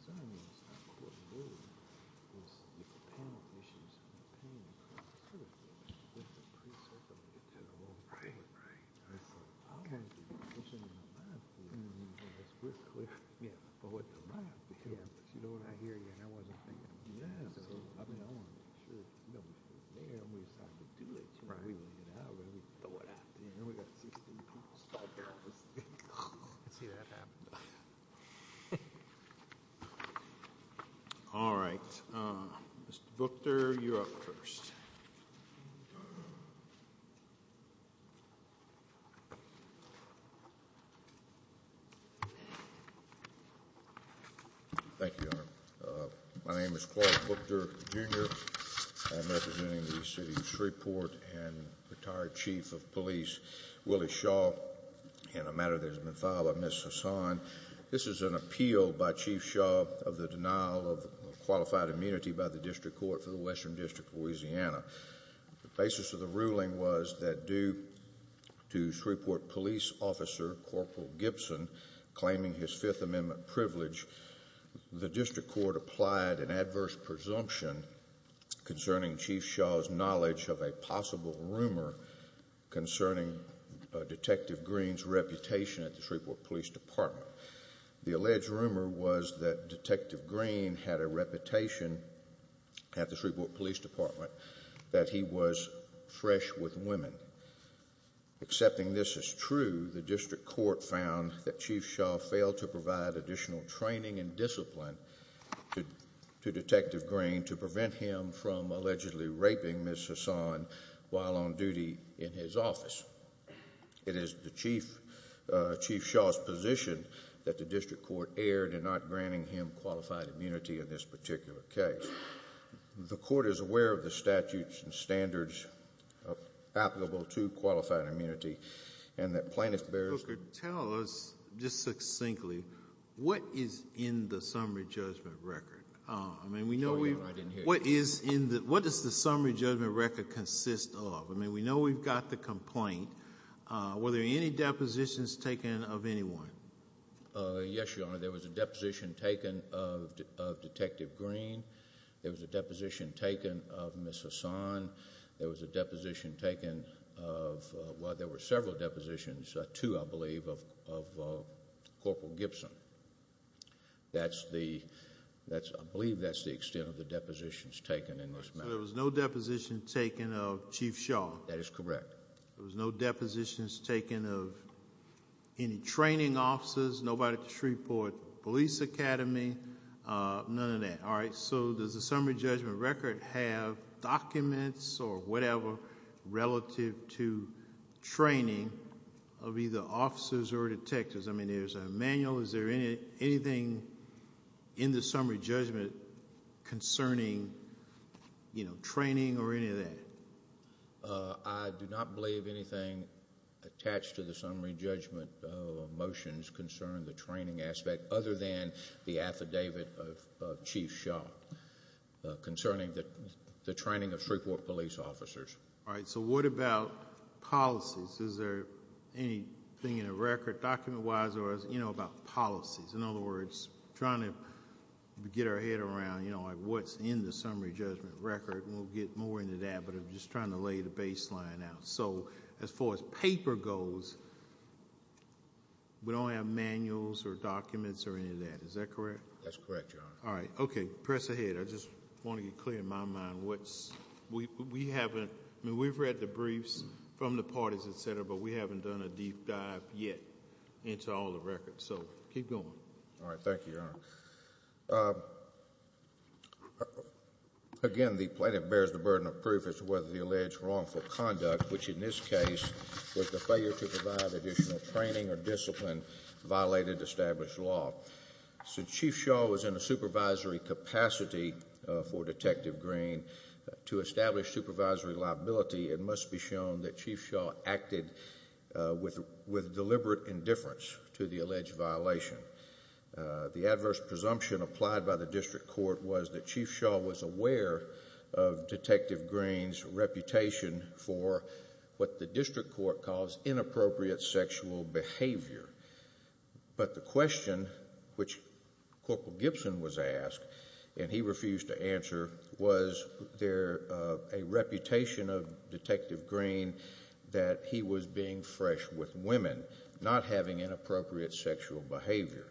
I mean, it's not cool to do it, because you can panel issues and campaign across the city. But it's a precircle to get to the whole point. I'll kind of do the commission in the lab for you. Yeah, but with the lab, because you know what, I hear you and I wasn't thinking of doing it. I mean, I want to make sure that, you know, we're there and we decide to do it. You know, we want to get out and we throw it out. And then we've got 16 people stuck here on this thing. Let's see that happen. All right. Mr. Buchter, you're up first. Thank you, Your Honor. My name is Clark Buchter, Jr. I'm representing the City of Shreveport and retired Chief of Police Willie Shaw. And a matter that has been filed by Ms. Hassan. This is an appeal by Chief Shaw of the denial of qualified immunity by the District Court for the Western District of Louisiana. The basis of the ruling was that due to Shreveport Police Officer Corporal Gibson claiming his Fifth Amendment privilege, the District Court applied an adverse presumption concerning Chief Shaw's knowledge of a possible rumor concerning Detective Green's reputation at the Shreveport Police Department. The alleged rumor was that Detective Green had a reputation at the Shreveport Police Department that he was fresh with women. Accepting this as true, the District Court found that Chief Shaw failed to provide additional training and discipline to Detective Green to prevent him from allegedly raping Ms. Hassan while on duty in his office. It is Chief Shaw's position that the District Court erred in not granting him qualified immunity in this particular case. The Court is aware of the statutes and standards applicable to qualified immunity and that plaintiff bears Tell us just succinctly, what is in the summary judgment record? What does the summary judgment record consist of? We know we've got the complaint. Were there any depositions taken of anyone? Yes, Your Honor, there was a deposition taken of Detective Green. There was a deposition taken of Ms. Hassan. There was a deposition taken of, well, there were several depositions, two I believe, of Corporal Gibson. That's the, I believe that's the extent of the depositions taken in this matter. So there was no deposition taken of Chief Shaw? That is correct. There was no depositions taken of any training officers, nobody at the Shreveport Police Academy, none of that. All right, so does the summary judgment record have documents or whatever relative to training of either officers or detectives? I mean, there's a manual. Is there anything in the summary judgment concerning, you know, training or any of that? I do not believe anything attached to the summary judgment motions concern the training aspect other than the affidavit of Chief Shaw concerning the training of Shreveport police officers. All right, so what about policies? Is there anything in the record document-wise or, you know, about policies? In other words, trying to get our head around, you know, what's in the summary judgment record, and we'll get more into that, but I'm just trying to lay the baseline out. So as far as paper goes, we don't have manuals or documents or any of that. Is that correct? That's correct, Your Honor. All right, okay, press ahead. I just want to get clear in my mind. We haven't, I mean, we've read the briefs from the parties, et cetera, but we haven't done a deep dive yet into all the records, so keep going. All right, thank you, Your Honor. Again, the plaintiff bears the burden of proof as to whether the alleged wrongful conduct, which in this case was the failure to provide additional training or discipline, violated established law. Since Chief Shaw was in a supervisory capacity for Detective Green to establish supervisory liability, it must be shown that Chief Shaw acted with deliberate indifference to the alleged violation. The adverse presumption applied by the district court was that Chief Shaw was aware of Detective Green's reputation for what the district court calls inappropriate sexual behavior. But the question which Corporal Gibson was asked, and he refused to answer, was there a reputation of Detective Green that he was being fresh with women, not having inappropriate sexual behavior?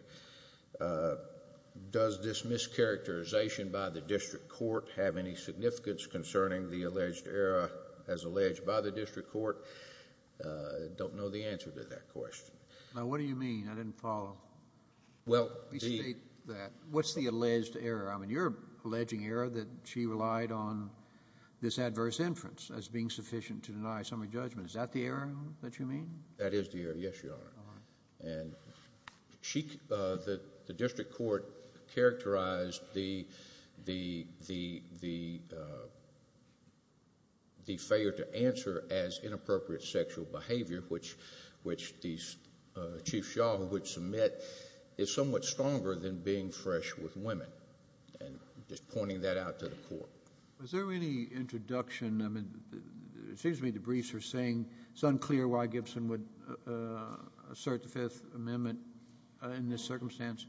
Does this mischaracterization by the district court have any significance concerning the alleged error as alleged by the district court? I don't know the answer to that question. Now, what do you mean? I didn't follow. Well, the... Please state that. What's the alleged error? I mean, you're alleging error that she relied on this adverse inference as being sufficient to deny summary judgment. Is that the error that you mean? That is the error, yes, Your Honor. All right. And the district court characterized the failure to answer as inappropriate sexual behavior, which Chief Shaw would submit, is somewhat stronger than being fresh with women, and just pointing that out to the court. Was there any introduction? It seems to me the briefs are saying it's unclear why Gibson would assert the Fifth Amendment in this circumstance.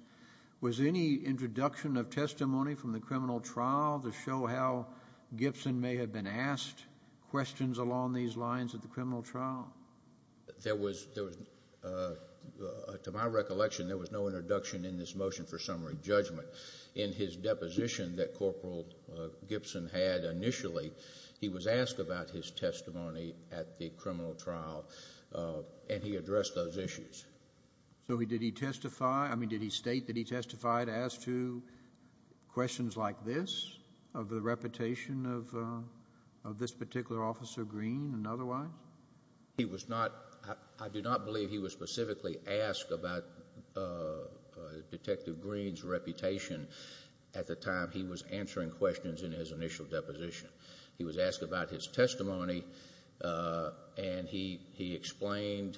Was there any introduction of testimony from the criminal trial to show how Gibson may have been asked questions along these lines at the criminal trial? There was, to my recollection, there was no introduction in this motion for summary judgment. But in his deposition that Corporal Gibson had initially, he was asked about his testimony at the criminal trial, and he addressed those issues. So did he testify? I mean, did he state that he testified as to questions like this, of the reputation of this particular Officer Green and otherwise? He was not. I do not believe he was specifically asked about Detective Green's reputation at the time he was answering questions in his initial deposition. He was asked about his testimony, and he explained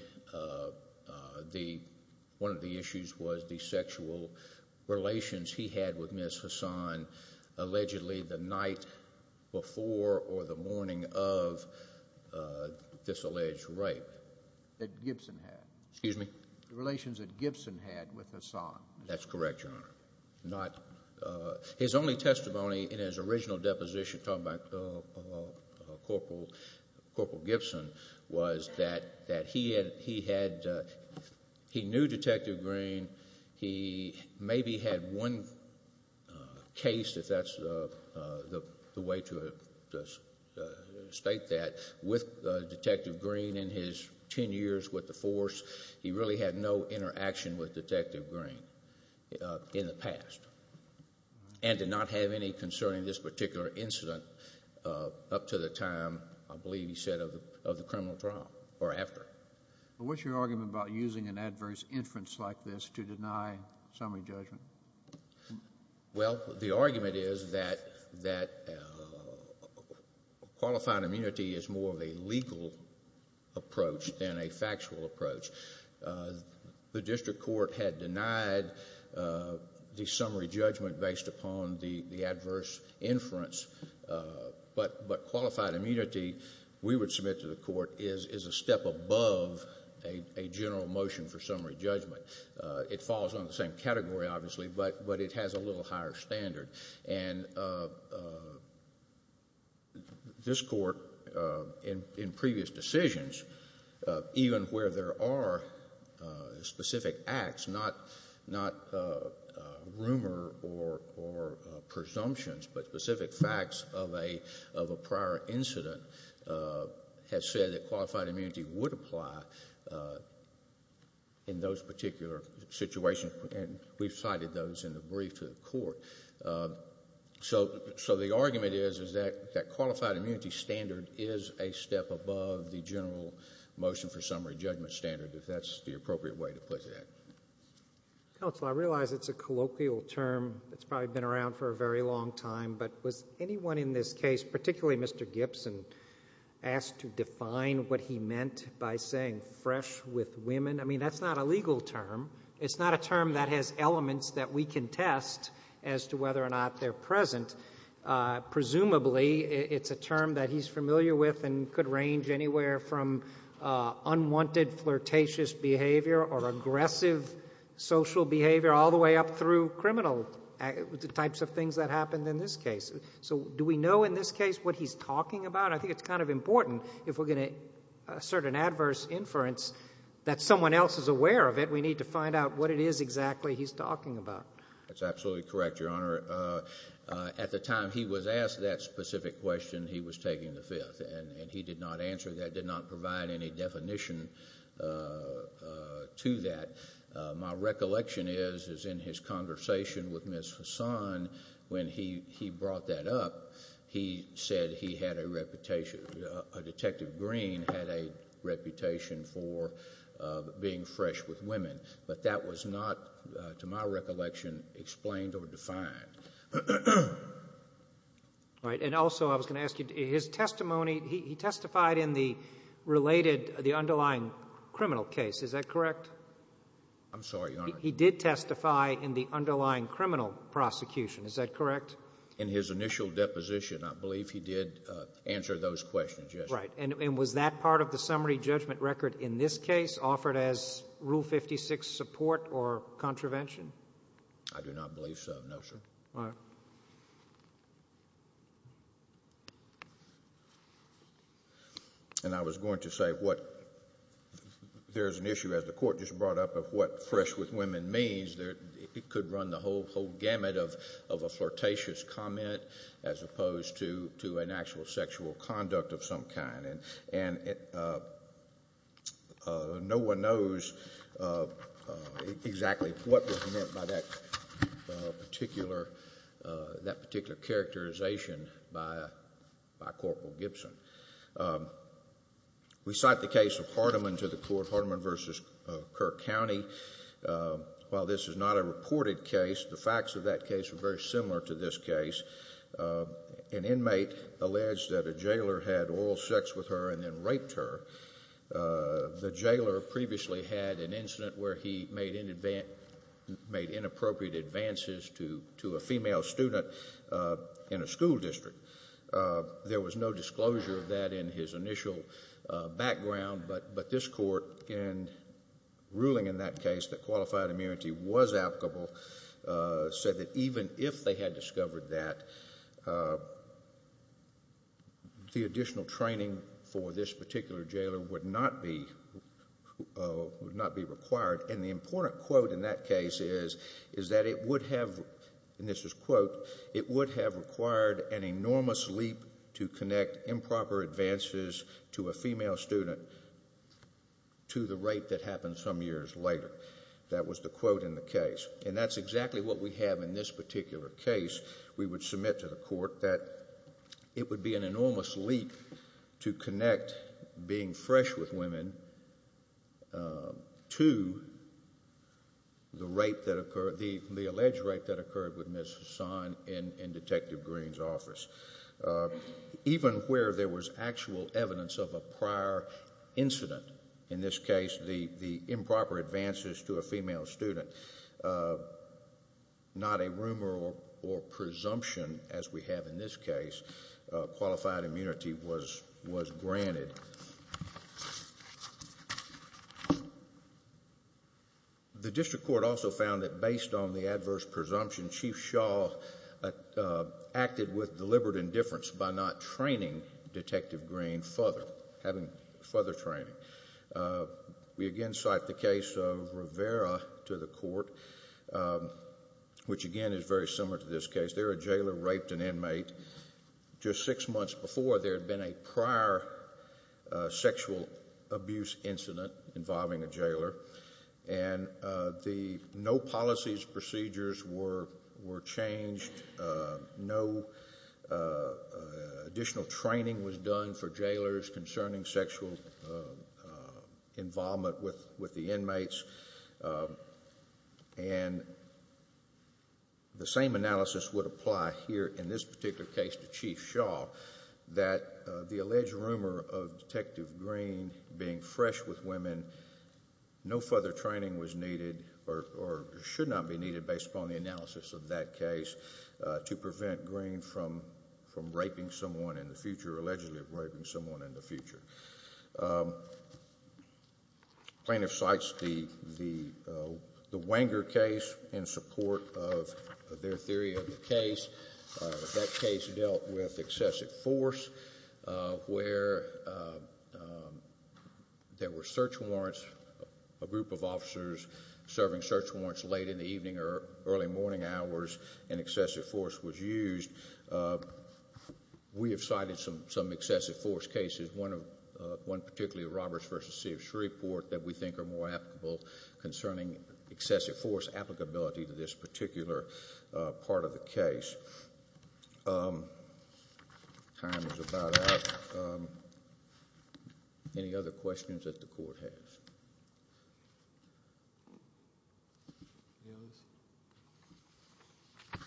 one of the issues was the sexual relations he had with Ms. Hassan, allegedly the night before or the morning of this alleged rape. That Gibson had. Excuse me? The relations that Gibson had with Hassan. That's correct, Your Honor. His only testimony in his original deposition talking about Corporal Gibson was that he knew Detective Green. He maybe had one case, if that's the way to state that, with Detective Green in his 10 years with the force. He really had no interaction with Detective Green in the past and did not have any concerning this particular incident up to the time, I believe he said, of the criminal trial or after. What's your argument about using an adverse inference like this to deny summary judgment? Well, the argument is that qualified immunity is more of a legal approach than a factual approach. The district court had denied the summary judgment based upon the adverse inference, but qualified immunity, we would submit to the court, is a step above a general motion for summary judgment. It falls under the same category, obviously, but it has a little higher standard. And this court, in previous decisions, even where there are specific acts, not rumor or presumptions, but specific facts of a prior incident, has said that qualified immunity would apply in those particular situations, and we've cited those in the brief to the court. So the argument is that qualified immunity standard is a step above the general motion for summary judgment standard, if that's the appropriate way to put it. Counsel, I realize it's a colloquial term that's probably been around for a very long time, but was anyone in this case, particularly Mr. Gibson, asked to define what he meant by saying fresh with women? I mean, that's not a legal term. It's not a term that has elements that we can test as to whether or not they're present. Presumably, it's a term that he's familiar with and could range anywhere from unwanted flirtatious behavior or aggressive social behavior all the way up through criminal types of things that happened in this case. So do we know in this case what he's talking about? I think it's kind of important, if we're going to assert an adverse inference, that someone else is aware of it. We need to find out what it is exactly he's talking about. That's absolutely correct, Your Honor. At the time he was asked that specific question, he was taking the fifth, and he did not answer that, did not provide any definition to that. My recollection is, is in his conversation with Ms. Hassan, when he brought that up, he said he had a reputation. Detective Green had a reputation for being fresh with women, but that was not, to my recollection, explained or defined. All right. And also, I was going to ask you, his testimony, he testified in the related, the underlying criminal case. Is that correct? I'm sorry, Your Honor. He did testify in the underlying criminal prosecution. Is that correct? In his initial deposition, I believe he did answer those questions, yes. That's right. And was that part of the summary judgment record in this case offered as Rule 56 support or contravention? I do not believe so, no, sir. All right. And I was going to say what, there's an issue, as the Court just brought up, of what fresh with women means. It could run the whole gamut of a flirtatious comment as opposed to an actual sexual conduct of some kind. And no one knows exactly what was meant by that particular characterization by Corporal Gibson. We cite the case of Hardeman to the Court, Hardeman v. Kirk County. While this is not a reported case, the facts of that case were very similar to this case. An inmate alleged that a jailer had oral sex with her and then raped her. The jailer previously had an incident where he made inappropriate advances to a female student in a school district. There was no disclosure of that in his initial background. But this Court, in ruling in that case that qualified immunity was applicable, said that even if they had discovered that, the additional training for this particular jailer would not be required. And the important quote in that case is that it would have, and this is a quote, it would have required an enormous leap to connect improper advances to a female student to the rape that happened some years later. That was the quote in the case. And that's exactly what we have in this particular case. We would submit to the Court that it would be an enormous leap to connect being fresh with women to the rape that occurred, the alleged rape that occurred with Ms. Hassan in Detective Green's office. Even where there was actual evidence of a prior incident, in this case the improper advances to a female student, not a rumor or presumption, as we have in this case, qualified immunity was granted. The District Court also found that based on the adverse presumption, Chief Shaw acted with deliberate indifference by not training Detective Green further, having further training. We again cite the case of Rivera to the Court, which again is very similar to this case. There, a jailer raped an inmate. Just six months before, there had been a prior sexual abuse incident involving a jailer, and the no policies procedures were changed. No additional training was done for jailers concerning sexual involvement with the inmates. The same analysis would apply here in this particular case to Chief Shaw, that the alleged rumor of Detective Green being fresh with women, no further training was needed or should not be needed based upon the analysis of that case to prevent Green from raping someone in the future, allegedly raping someone in the future. Plaintiff cites the Wenger case in support of their theory of the case. That case dealt with excessive force, where there were search warrants, a group of officers serving search warrants late in the evening or early morning hours, and excessive force was used. We have cited some excessive force cases, one particularly of Roberts v. C. of Shreveport, that we think are more applicable concerning excessive force applicability to this particular part of the case. Time is about out. Any other questions that the Court has?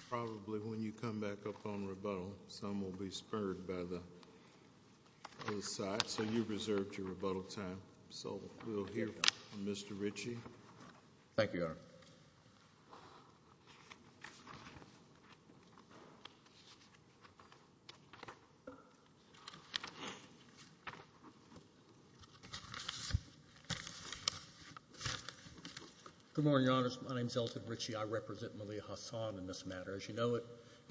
Probably when you come back up on rebuttal, some will be spurred by the other side, so you've reserved your rebuttal time. So we'll hear from Mr. Ritchie. Thank you, Your Honor. Good morning, Your Honors. My name is Elton Ritchie. I represent Malia Hassan in this matter. As you know, it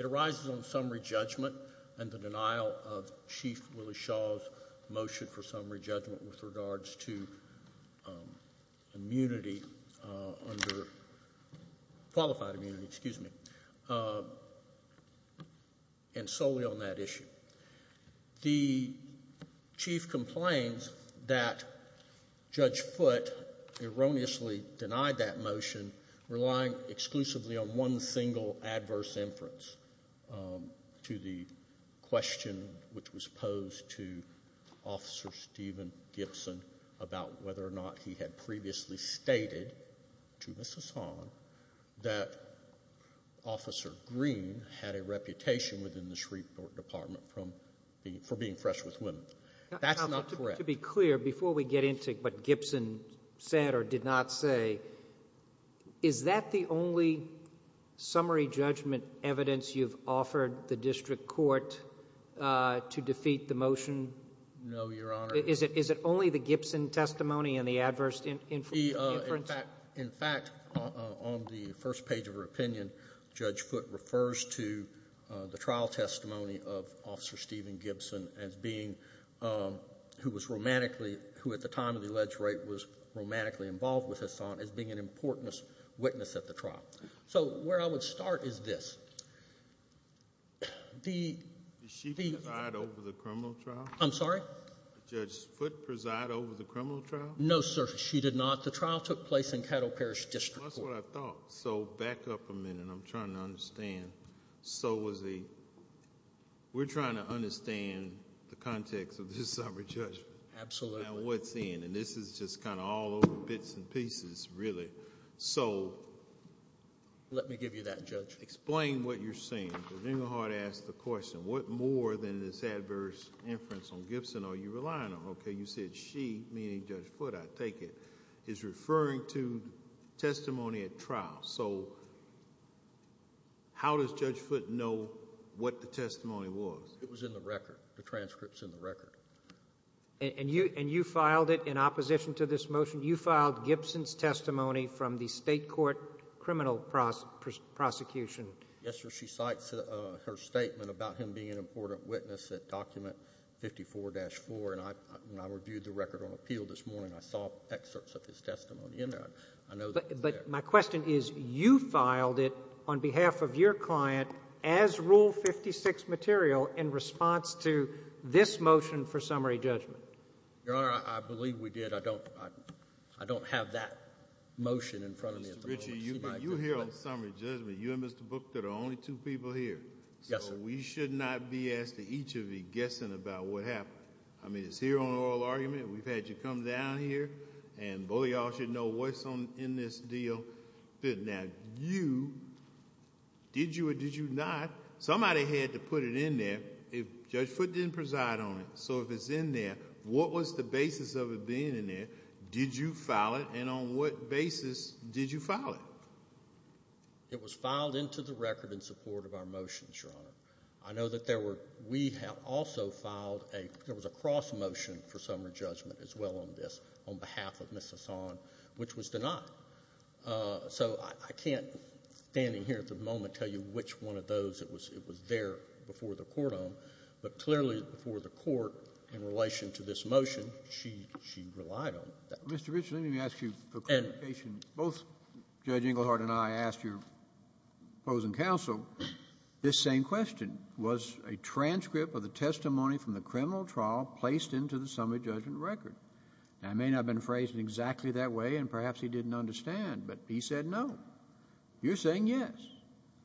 arises on summary judgment and the denial of Chief Willie Shaw's motion for summary judgment with regards to immunity, under qualified immunity, excuse me, and solely on that issue. The Chief complains that Judge Foote erroneously denied that motion, relying exclusively on one single adverse inference to the question which was posed to Officer Stephen Gibson about whether or not he had previously stated to Mrs. Hahn that Officer Green had a reputation within the Shreveport Department for being fresh with women. That's not correct. To be clear, before we get into what Gibson said or did not say, is that the only summary judgment evidence you've offered the district court to defeat the motion? No, Your Honor. Is it only the Gibson testimony and the adverse inference? In fact, on the first page of her opinion, Judge Foote refers to the trial testimony of Officer Stephen Gibson as being, who at the time of the alleged rape was romantically involved with Hassan, as being an important witness at the trial. So where I would start is this. Did she preside over the criminal trial? I'm sorry? Did Judge Foote preside over the criminal trial? No, sir, she did not. The trial took place in Cattle Parish District Court. That's what I thought. So back up a minute. I'm trying to understand. So was the, we're trying to understand the context of this summary judgment. Absolutely. And what's in. And this is just kind of all over bits and pieces, really. So. Let me give you that, Judge. Explain what you're saying, because then you'll have to ask the question, what more than this adverse inference on Gibson are you relying on? Okay, you said she, meaning Judge Foote, I take it, is referring to testimony at trial. So how does Judge Foote know what the testimony was? It was in the record. The transcript's in the record. And you filed it in opposition to this motion? You filed Gibson's testimony from the state court criminal prosecution. Yes, sir. She cites her statement about him being an important witness at document 54-4. And I reviewed the record on appeal this morning. I saw excerpts of his testimony in there. I know that's there. But my question is, you filed it on behalf of your client as Rule 56 material in response to this motion for summary judgment. Your Honor, I believe we did. I don't have that motion in front of me at the moment. Mr. Ritchie, you're here on summary judgment. You and Mr. Book are the only two people here. Yes, sir. So we should not be asking each of you guessing about what happened. I mean, it's here on oral argument. We've had you come down here. And both of you all should know what's in this deal. Now, you, did you or did you not, somebody had to put it in there. Judge Foote didn't preside on it. So if it's in there, what was the basis of it being in there? Did you file it? And on what basis did you file it? It was filed into the record in support of our motions, Your Honor. I know that there were, we have also filed a, there was a cross motion for summary judgment as well on this, on behalf of Ms. Hassan, which was denied. So I can't, standing here at the moment, tell you which one of those it was there before the court on. But clearly before the court in relation to this motion, she relied on that. Mr. Rich, let me ask you for clarification. Both Judge Inglehart and I asked your opposing counsel this same question. Was a transcript of the testimony from the criminal trial placed into the summary judgment record? Now, it may not have been phrased exactly that way, and perhaps he didn't understand. But he said no. You're saying yes.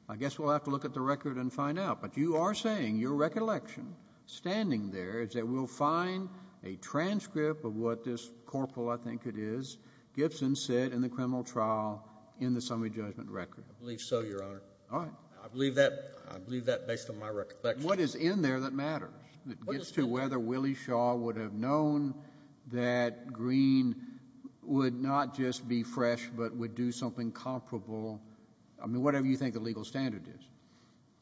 I guess we'll have to look at the record and find out. But you are saying your recollection, standing there, is that we'll find a transcript of what this corporal, I think it is, Gibson said in the criminal trial in the summary judgment record. I believe so, Your Honor. All right. I believe that based on my recollection. What is in there that matters? It gets to whether Willie Shaw would have known that Green would not just be fresh but would do something comparable, I mean, whatever you think the legal standard is.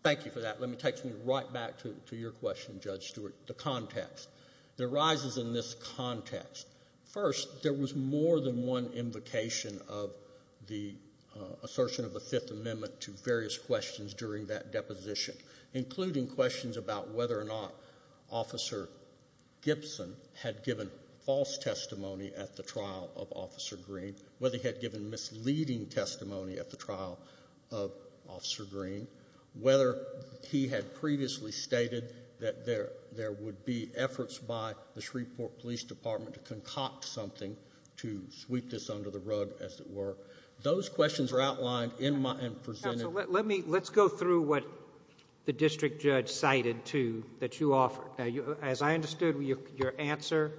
Thank you for that. Let me take you right back to your question, Judge Stewart, the context. It arises in this context. First, there was more than one invocation of the assertion of the Fifth Amendment to various questions during that deposition, including questions about whether or not Officer Gibson had given false testimony at the trial of Officer Green, whether he had given misleading testimony at the trial of Officer Green, whether he had previously stated that there would be efforts by the Shreveport Police Department to concoct something to sweep this under the rug, as it were. Those questions are outlined and presented. Counsel, let's go through what the district judge cited that you offered. As I understood your answer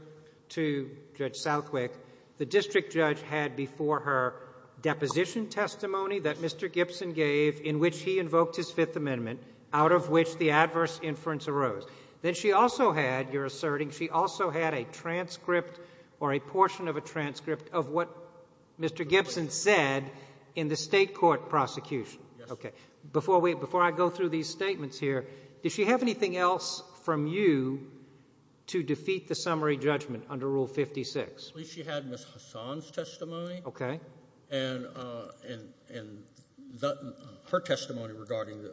to Judge Southwick, the district judge had before her deposition testimony that Mr. Gibson gave in which he invoked his Fifth Amendment, out of which the adverse inference arose. Then she also had, you're asserting, she also had a transcript or a portion of a transcript of what Mr. Gibson said in the State court prosecution. Yes. Okay. Before I go through these statements here, does she have anything else from you to defeat the summary judgment under Rule 56? She had Ms. Hassan's testimony. Okay. And her testimony regarding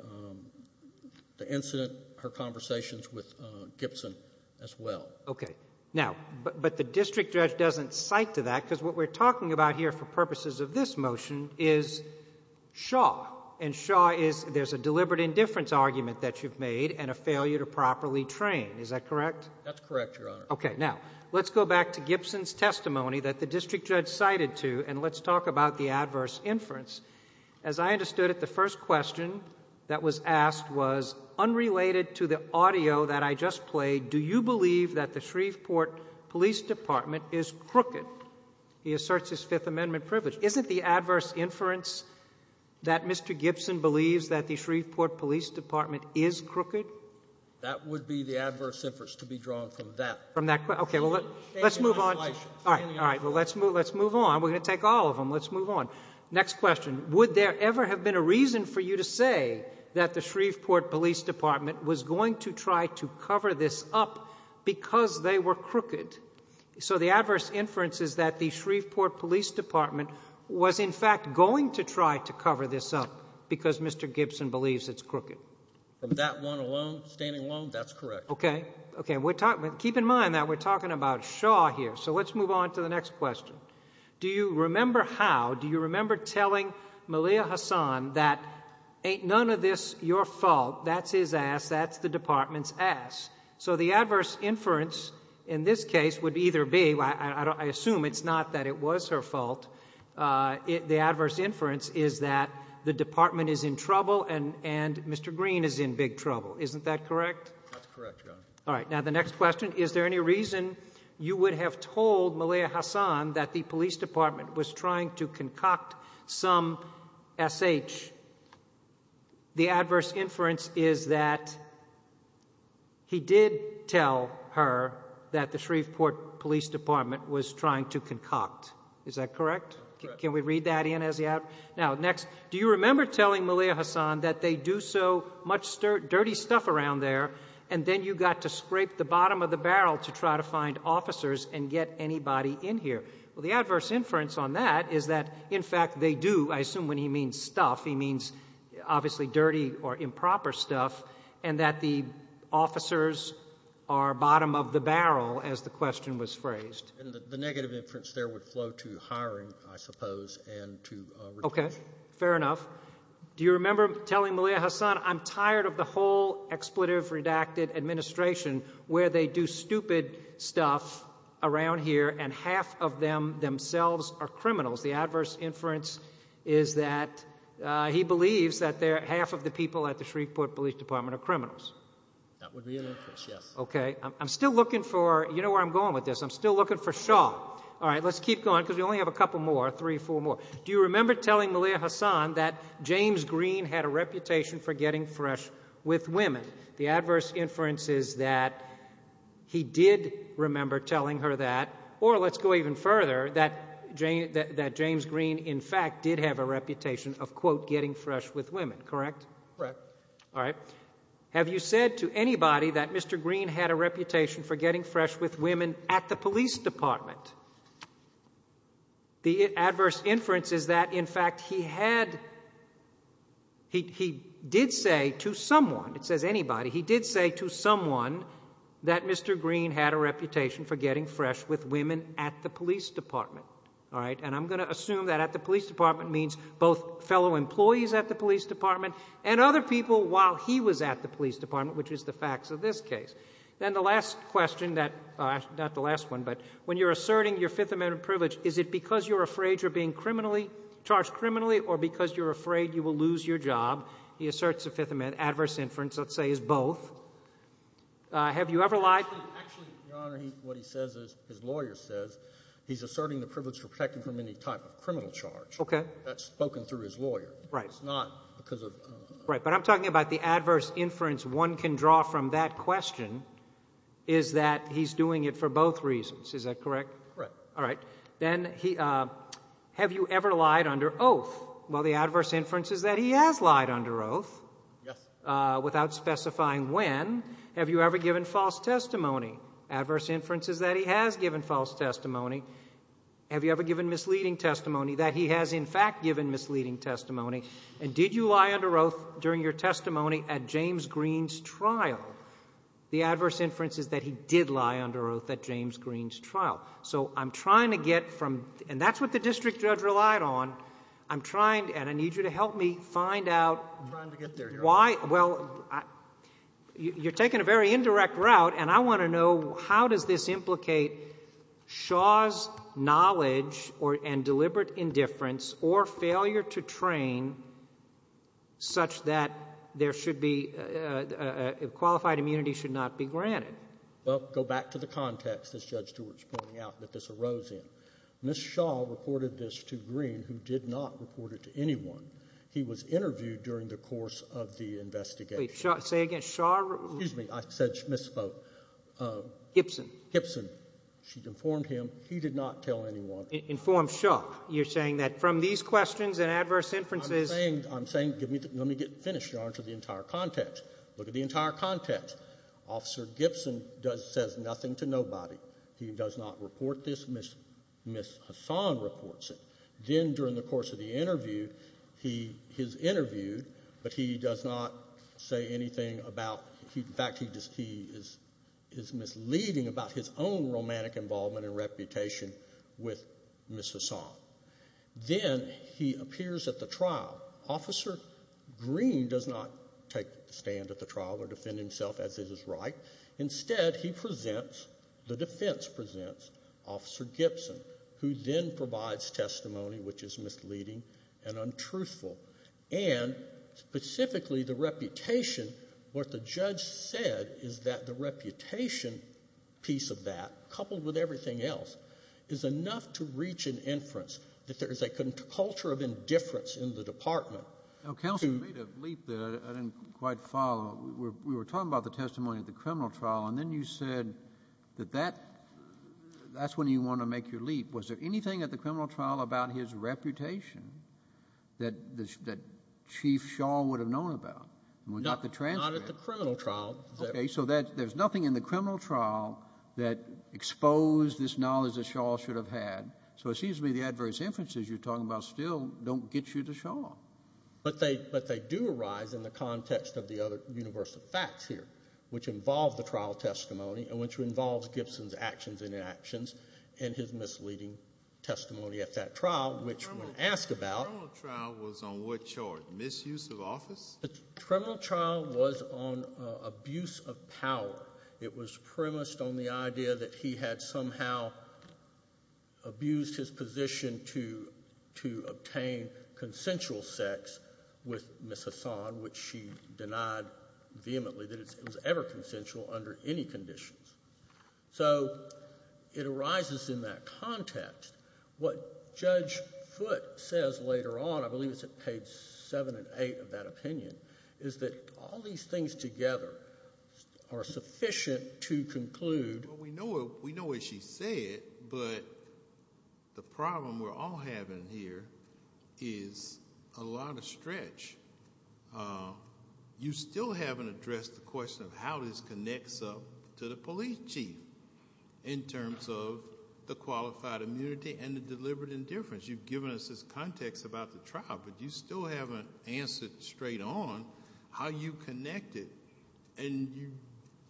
the incident, her conversations with Gibson as well. Okay. Now, but the district judge doesn't cite to that because what we're talking about here for purposes of this motion is Shaw, and Shaw is there's a deliberate indifference argument that you've made and a failure to properly train. Is that correct? That's correct, Your Honor. Okay. Now, let's go back to Gibson's testimony that the district judge cited to, and let's talk about the adverse inference. As I understood it, the first question that was asked was, unrelated to the audio that I just played, do you believe that the Shreveport Police Department is crooked? He asserts his Fifth Amendment privilege. Isn't the adverse inference that Mr. Gibson believes that the Shreveport Police Department is crooked? That would be the adverse inference to be drawn from that. From that. Okay. Well, let's move on. All right. All right. Well, let's move on. We're going to take all of them. Let's move on. Next question. Would there ever have been a reason for you to say that the Shreveport Police Department was going to try to cover this up because they were crooked? So the adverse inference is that the Shreveport Police Department was, in fact, going to try to cover this up because Mr. Gibson believes it's crooked. From that one alone, standing alone, that's correct. Okay. Okay. Keep in mind that we're talking about Shaw here. So let's move on to the next question. Do you remember how, do you remember telling Malia Hassan that ain't none of this your fault, that's his ass, that's the department's ass? So the adverse inference in this case would either be, I assume it's not that it was her fault, the adverse inference is that the department is in trouble and Mr. Green is in big trouble. Isn't that correct? That's correct, Your Honor. All right. Now the next question, is there any reason you would have told Malia Hassan that the police department was trying to concoct some S.H.? The adverse inference is that he did tell her that the Shreveport Police Department was trying to concoct. Is that correct? Correct. Can we read that in as you have? Now, next, do you remember telling Malia Hassan that they do so much dirty stuff around there and then you got to scrape the bottom of the barrel to try to find officers and get anybody in here? Well, the adverse inference on that is that, in fact, they do, I assume when he means stuff, he means obviously dirty or improper stuff, and that the officers are bottom of the barrel, as the question was phrased. And the negative inference there would flow to hiring, I suppose, and to reduction. Okay. Fair enough. Do you remember telling Malia Hassan, I'm tired of the whole expletive redacted administration where they do stupid stuff around here and half of them themselves are criminals? The adverse inference is that he believes that half of the people at the Shreveport Police Department are criminals. That would be an inference, yes. Okay. I'm still looking for, you know where I'm going with this, I'm still looking for Shaw. All right. Let's keep going because we only have a couple more, three, four more. Do you remember telling Malia Hassan that James Green had a reputation for getting fresh with women? The adverse inference is that he did remember telling her that, or let's go even further, that James Green, in fact, did have a reputation of, quote, getting fresh with women, correct? Correct. All right. Have you said to anybody that Mr. Green had a reputation for getting fresh with women at the police department? The adverse inference is that, in fact, he had, he did say to someone, it says anybody, he did say to someone that Mr. Green had a reputation for getting fresh with women at the police department. All right. And I'm going to assume that at the police department means both fellow employees at the police department and other people while he was at the police department, which is the facts of this case. And the last question that, not the last one, but when you're asserting your Fifth Amendment privilege, is it because you're afraid you're being criminally, charged criminally, or because you're afraid you will lose your job? He asserts the Fifth Amendment. Adverse inference, let's say, is both. Have you ever lied? Actually, Your Honor, what he says is, his lawyer says, he's asserting the privilege for protecting from any type of criminal charge. Okay. That's spoken through his lawyer. Right. It's not because of. Right. But I'm talking about the adverse inference one can draw from that question is that he's doing it for both reasons. Is that correct? Correct. All right. Then, have you ever lied under oath? Well, the adverse inference is that he has lied under oath. Yes. Without specifying when. Have you ever given false testimony? Adverse inference is that he has given false testimony. Have you ever given misleading testimony? That he has, in fact, given misleading testimony. And did you lie under oath during your testimony at James Green's trial? The adverse inference is that he did lie under oath at James Green's trial. So I'm trying to get from — and that's what the district judge relied on. I'm trying — and I need you to help me find out why — I'm trying to get there, Your Honor. And I want to know how does this implicate Shaw's knowledge and deliberate indifference or failure to train such that there should be — qualified immunity should not be granted? Well, go back to the context, as Judge Stewart's pointing out, that this arose in. Ms. Shaw reported this to Green, who did not report it to anyone. He was interviewed during the course of the investigation. Say again. Shaw — Excuse me. I said misspoke. Gibson. Gibson. She informed him. He did not tell anyone. Informed Shaw. You're saying that from these questions and adverse inferences — I'm saying — I'm saying — let me get finished, Your Honor, to the entire context. Look at the entire context. Officer Gibson does — says nothing to nobody. He does not report this. Ms. Hassan reports it. Then during the course of the interview, he is interviewed, but he does not say anything about — in fact, he is misleading about his own romantic involvement and reputation with Ms. Hassan. Then he appears at the trial. Officer Green does not take the stand at the trial or defend himself, as it is right. Instead, he presents — the defense presents Officer Gibson, who then provides testimony, which is misleading and untruthful. And specifically the reputation, what the judge said is that the reputation piece of that, coupled with everything else, is enough to reach an inference that there is a culture of indifference in the Department. Now, counsel, you made a leap that I didn't quite follow. We were talking about the testimony at the criminal trial, and then you said that that — that's when you want to make your leap. Was there anything at the criminal trial about his reputation that Chief Shaw would have known about? Not at the criminal trial. Okay. So there's nothing in the criminal trial that exposed this knowledge that Shaw should have had. So it seems to me the adverse inferences you're talking about still don't get you to Shaw. But they do arise in the context of the other universal facts here, which involve the trial testimony and which involves Gibson's actions and inactions and his misleading testimony at that trial, which when asked about — The criminal trial was on what charge? Misuse of office? The criminal trial was on abuse of power. It was premised on the idea that he had somehow abused his position to — to obtain consensual sex with Ms. Hassan, which she denied vehemently, that it was ever consensual under any conditions. So it arises in that context. What Judge Foote says later on, I believe it's at page 7 and 8 of that opinion, is that all these things together are sufficient to conclude — Well, we know what she said, but the problem we're all having here is a lot of stretch. You still haven't addressed the question of how this connects up to the police chief in terms of the qualified immunity and the deliberate indifference. You've given us this context about the trial, but you still haven't answered straight on how you connect it. And you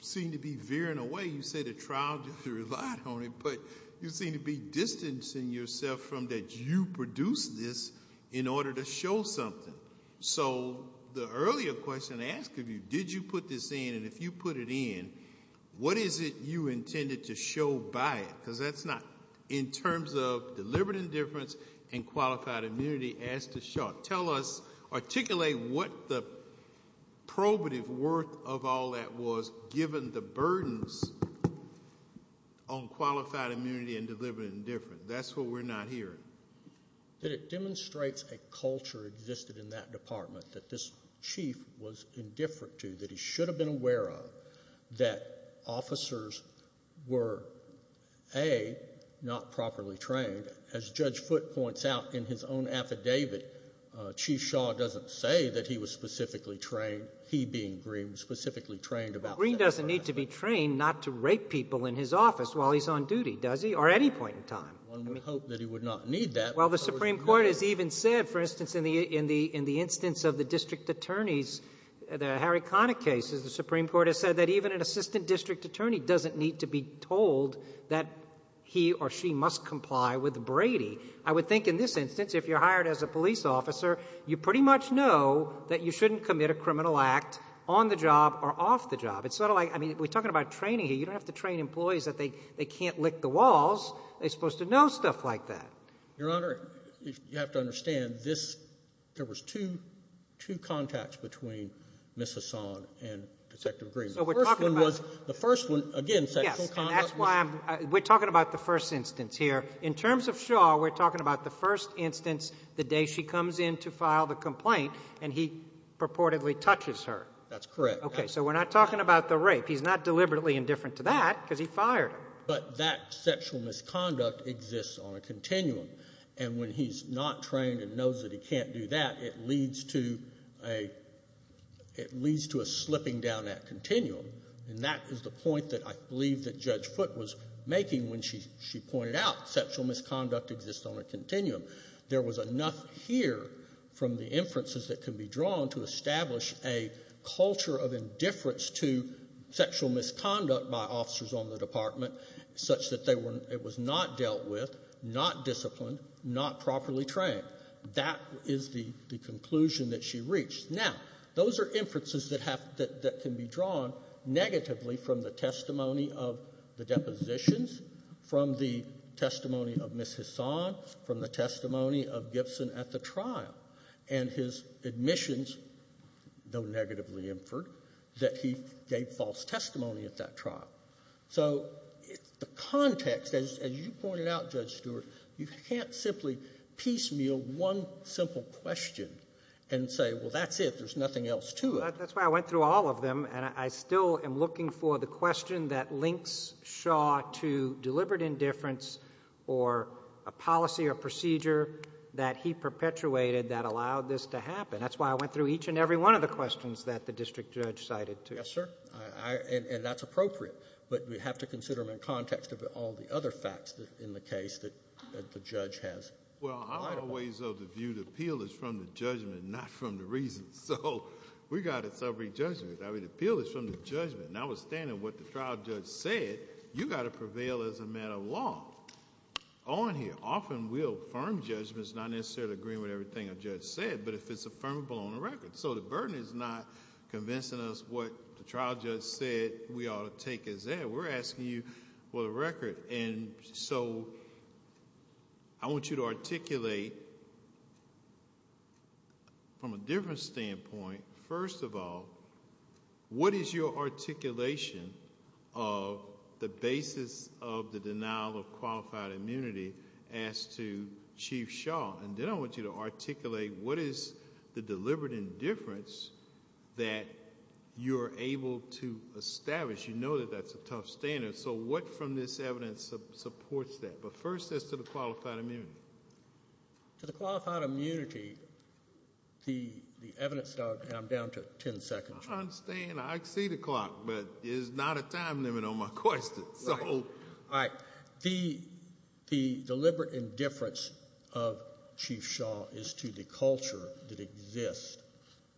seem to be veering away. You say the trial didn't rely on it, but you seem to be distancing yourself from that you produced this in order to show something. So the earlier question I asked of you, did you put this in? And if you put it in, what is it you intended to show by it? Because that's not — in terms of deliberate indifference and qualified immunity, as to Shaw, tell us, articulate what the probative worth of all that was, given the burdens on qualified immunity and deliberate indifference. That's what we're not hearing. That it demonstrates a culture existed in that department that this chief was indifferent to, that he should have been aware of, that officers were, A, not properly trained. As Judge Foote points out in his own affidavit, Chief Shaw doesn't say that he was specifically trained, he being Green, specifically trained about that. Well, Green doesn't need to be trained not to rape people in his office while he's on duty, does he, or any point in time. One would hope that he would not need that. Well, the Supreme Court has even said, for instance, in the instance of the district attorneys, the Harry Connick cases, the Supreme Court has said that even an assistant must comply with Brady. I would think in this instance, if you're hired as a police officer, you pretty much know that you shouldn't commit a criminal act on the job or off the job. It's sort of like — I mean, we're talking about training here. You don't have to train employees that they can't lick the walls. They're supposed to know stuff like that. Your Honor, you have to understand, this — there was two contacts between Ms. Hassan and Detective Green. So we're talking about — The first one was — the first one, again, sexual contact was — We're talking about the first instance here. In terms of Shaw, we're talking about the first instance, the day she comes in to file the complaint, and he purportedly touches her. That's correct. Okay. So we're not talking about the rape. He's not deliberately indifferent to that because he fired her. But that sexual misconduct exists on a continuum. And when he's not trained and knows that he can't do that, it leads to a — it leads to a slipping down that continuum. And that is the point that I believe that Judge Foote was making when she pointed out sexual misconduct exists on a continuum. There was enough here from the inferences that can be drawn to establish a culture of indifference to sexual misconduct by officers on the Department such that they were — it was not dealt with, not disciplined, not properly trained. That is the conclusion that she reached. Now, those are inferences that have — that can be drawn negatively from the testimony of the depositions, from the testimony of Ms. Hassan, from the testimony of Gibson at the trial, and his admissions, though negatively inferred, that he gave false testimony at that trial. So the context, as you pointed out, Judge Stewart, you can't simply piecemeal one simple question and say, well, that's it. There's nothing else to it. That's why I went through all of them. And I still am looking for the question that links Shaw to deliberate indifference or a policy or procedure that he perpetuated that allowed this to happen. That's why I went through each and every one of the questions that the district judge cited, too. Yes, sir. And that's appropriate. But we have to consider them in context of all the other facts in the case that the judge has. Well, I'm always of the view the appeal is from the judgment, not from the reasons. So we've got to celebrate judgment. I mean, the appeal is from the judgment. Now, withstanding what the trial judge said, you've got to prevail as a matter of law. On here, often we'll affirm judgments not necessarily agreeing with everything a judge said, but if it's affirmable on the record. So the burden is not convincing us what the trial judge said we ought to take as that. We're asking you for the record. And so I want you to articulate from a different standpoint, first of all, what is your articulation of the basis of the denial of qualified immunity as to Chief Shaw? And then I want you to articulate what is the deliberate indifference that you're able to establish. You know that that's a tough standard. So what from this evidence supports that? But first, as to the qualified immunity. To the qualified immunity, the evidence, and I'm down to 10 seconds. I understand. I see the clock, but there's not a time limit on my question. Right. All right. The deliberate indifference of Chief Shaw is to the culture that exists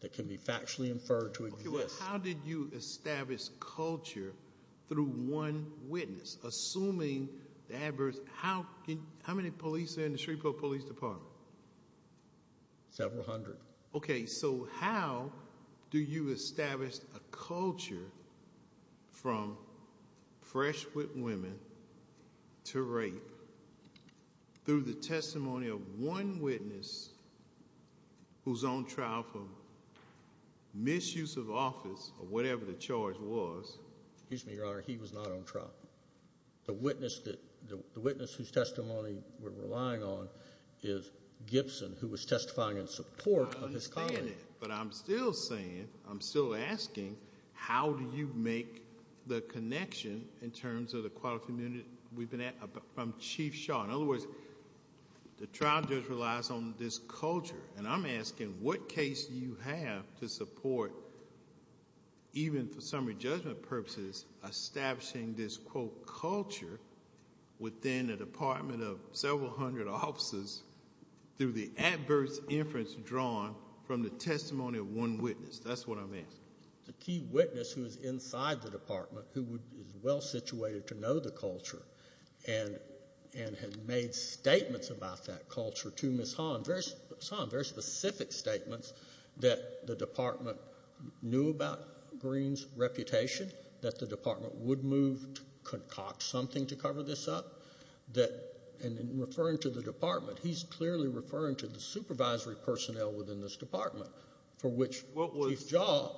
that can be factually inferred to exist. How did you establish culture through one witness? Assuming the adverse, how many police are in the Shreveport Police Department? Several hundred. Okay. So how do you establish a culture from fresh with women to rape? Through the testimony of one witness who's on trial for misuse of office, or whatever the charge was. Excuse me, Your Honor. He was not on trial. The witness whose testimony we're relying on is Gibson, who was testifying in support of his client. I understand that, but I'm still saying, I'm still asking, how do you make the connection in terms of the qualified immunity we've been at from Chief Shaw? In other words, the trial judge relies on this culture, and I'm asking, what case do you have to support, even for summary judgment purposes, establishing this, quote, culture within a department of several hundred officers through the adverse inference drawn from the testimony of one witness? That's what I'm asking. The key witness who is inside the department, who is well-situated to know the culture, and has made statements about that culture to Ms. Hahn, very specific statements that the department knew about Green's reputation, that the department would move to concoct something to cover this up, and in referring to the department, he's clearly referring to the supervisory department, and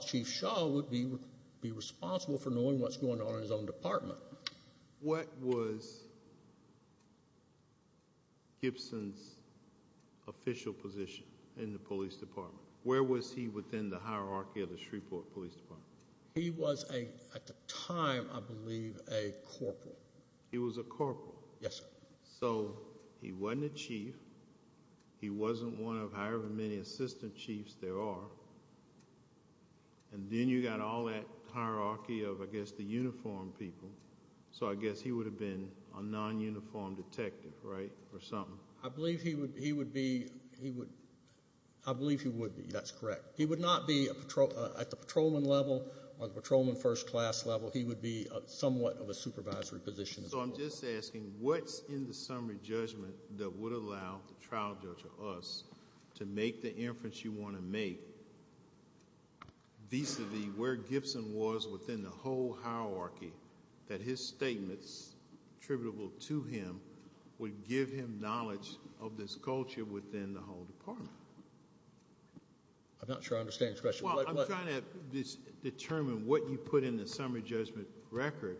Chief Shaw would be responsible for knowing what's going on in his own department. What was Gibson's official position in the police department? Where was he within the hierarchy of the Shreveport Police Department? He was, at the time, I believe, a corporal. He was a corporal. Yes, sir. So he wasn't a chief. He wasn't one of however many assistant chiefs there are, and then you've got all that hierarchy of, I guess, the uniformed people, so I guess he would have been a non-uniformed detective, right, or something? I believe he would be. I believe he would be. That's correct. He would not be at the patrolman level or the patrolman first class level. He would be somewhat of a supervisory position. So I'm just asking, what's in the summary judgment that would allow the trial judge or us to make the inference you want to make vis-à-vis where Gibson was within the whole hierarchy that his statements attributable to him would give him knowledge of this culture within the whole department? I'm not sure I understand your question. Well, I'm trying to determine what you put in the summary judgment record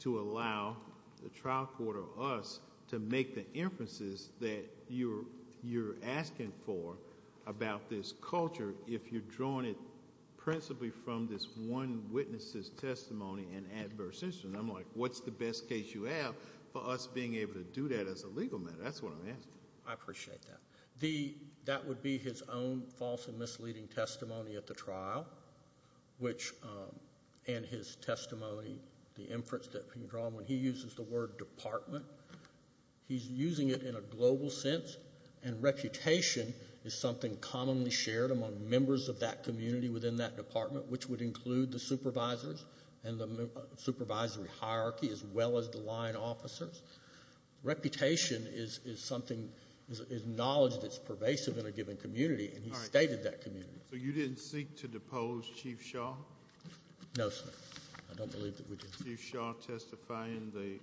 to allow the trial court or us to make the inferences that you're asking for about this culture if you're drawing it principally from this one witness's testimony and adverse instance. I'm like, what's the best case you have for us being able to do that as a legal matter? That's what I'm asking. I appreciate that. That would be his own false and misleading testimony at the trial and his testimony, the inference that can be drawn when he uses the word department. He's using it in a global sense, and reputation is something commonly shared among members of that community within that department, which would include the supervisors and the supervisory hierarchy as well as the line officers. Reputation is knowledge that's pervasive in a given community, and he stated that community. So you didn't seek to depose Chief Shaw? No, sir. I don't believe that we did. Chief Shaw testifying in the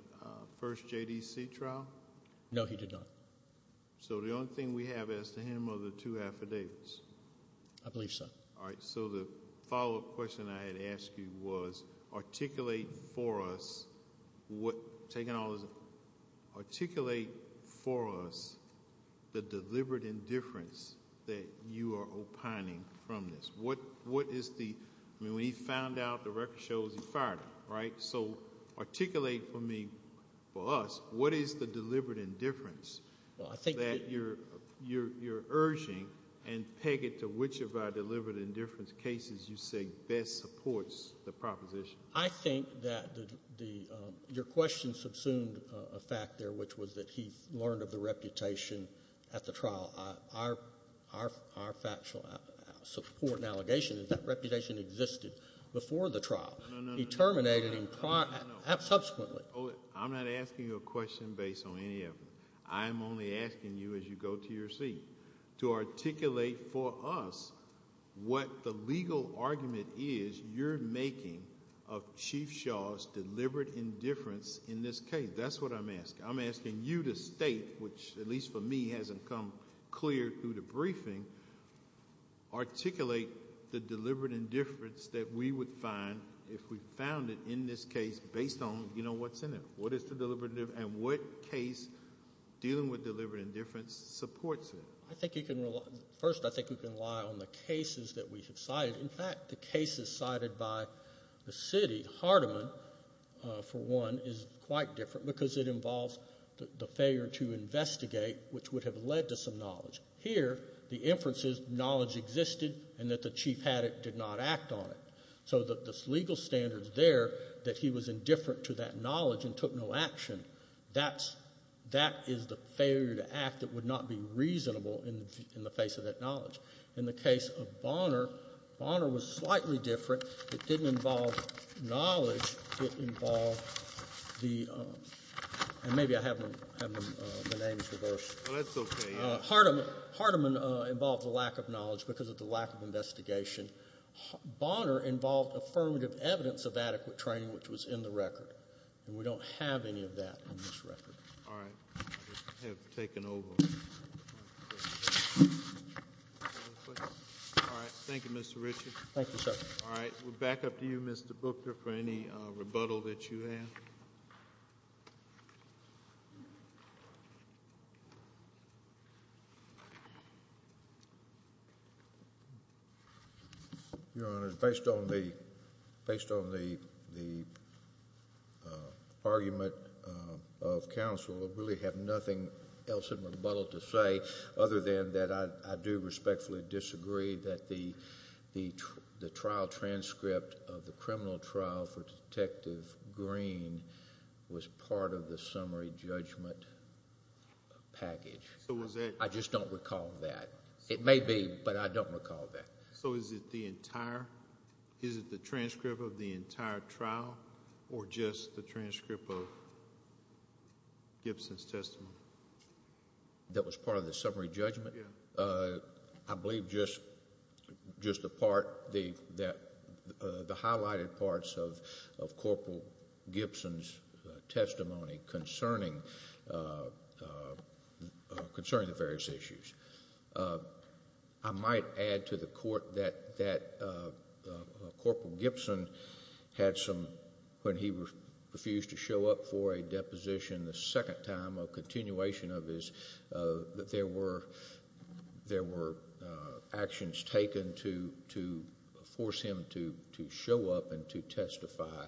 first JDC trial? No, he did not. So the only thing we have as to him are the two affidavits? I believe so. All right, so the follow-up question I had asked you was articulate for us the deliberate indifference that you are opining from this. When he found out the record shows he fired him, right? So articulate for me, for us, what is the deliberate indifference that you're urging and peg it to which of our deliberate indifference cases you say best supports the proposition? I think that your question subsumed a fact there, which was that he learned of the reputation at the trial. Our factual support and allegation is that reputation existed before the trial. No, no, no. He terminated him subsequently. I'm not asking you a question based on any of them. I'm only asking you as you go to your seat to articulate for us what the legal argument is you're making of Chief Shaw's deliberate indifference in this case. That's what I'm asking. I'm asking you to state, which at least for me hasn't come clear through the briefing, articulate the deliberate indifference that we would find if we found it in this case based on what's in it. What is the deliberate indifference and what case dealing with deliberate indifference supports it? First, I think we can rely on the cases that we have cited. In fact, the cases cited by the city, Hardiman, for one, is quite different because it involves the failure to investigate, which would have led to some knowledge. Here, the inference is knowledge existed and that the chief had it, did not act on it. So the legal standards there that he was indifferent to that knowledge and took no action, that is the failure to act that would not be reasonable in the face of that knowledge. In the case of Bonner, Bonner was slightly different. It didn't involve knowledge. It involved the – and maybe I have them – my name is reversed. That's okay. Hardiman involved the lack of knowledge because of the lack of investigation. Bonner involved affirmative evidence of adequate training, which was in the record. And we don't have any of that in this record. All right. I have taken over. All right. Thank you, Mr. Richard. Thank you, sir. All right. We'll back up to you, Mr. Booker, for any rebuttal that you have. Your Honor, based on the argument of counsel, I really have nothing else in rebuttal to say other than that I do respectfully disagree that the trial transcript of the criminal trial for Detective Green was part of the summary judgment package. So was that – I just don't recall that. It may be, but I don't recall that. So is it the entire – is it the transcript of the entire trial or just the transcript of Gibson's testimony? That was part of the summary judgment? Yes. I believe just the part – the highlighted parts of Corporal Gibson's testimony concerning the various issues. I might add to the court that Corporal Gibson had some – when he refused to show up for a deposition, the second time or continuation of this, that there were actions taken to force him to show up and to testify.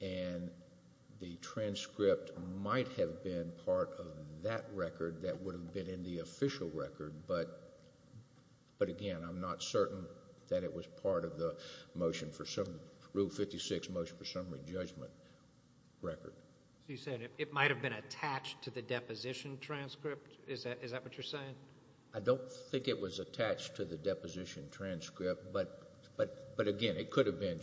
And the transcript might have been part of that record that would have been in the official record. But, again, I'm not certain that it was part of the motion for – Rule 56 motion for summary judgment record. So you're saying it might have been attached to the deposition transcript? Is that what you're saying? I don't think it was attached to the deposition transcript. But, again, it could have been,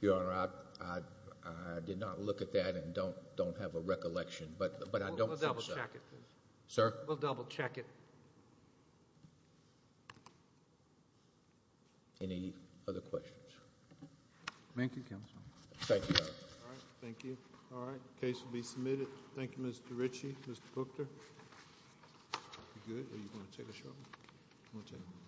Your Honor. I did not look at that and don't have a recollection. But I don't think so. We'll double check it. Sir? We'll double check it. Any other questions? Thank you, Counsel. Thank you, Your Honor. All right. The case will be submitted. Thank you, Mr. Ritchie. Mr. Booker. Are you good? Are you going to take a shot? All right.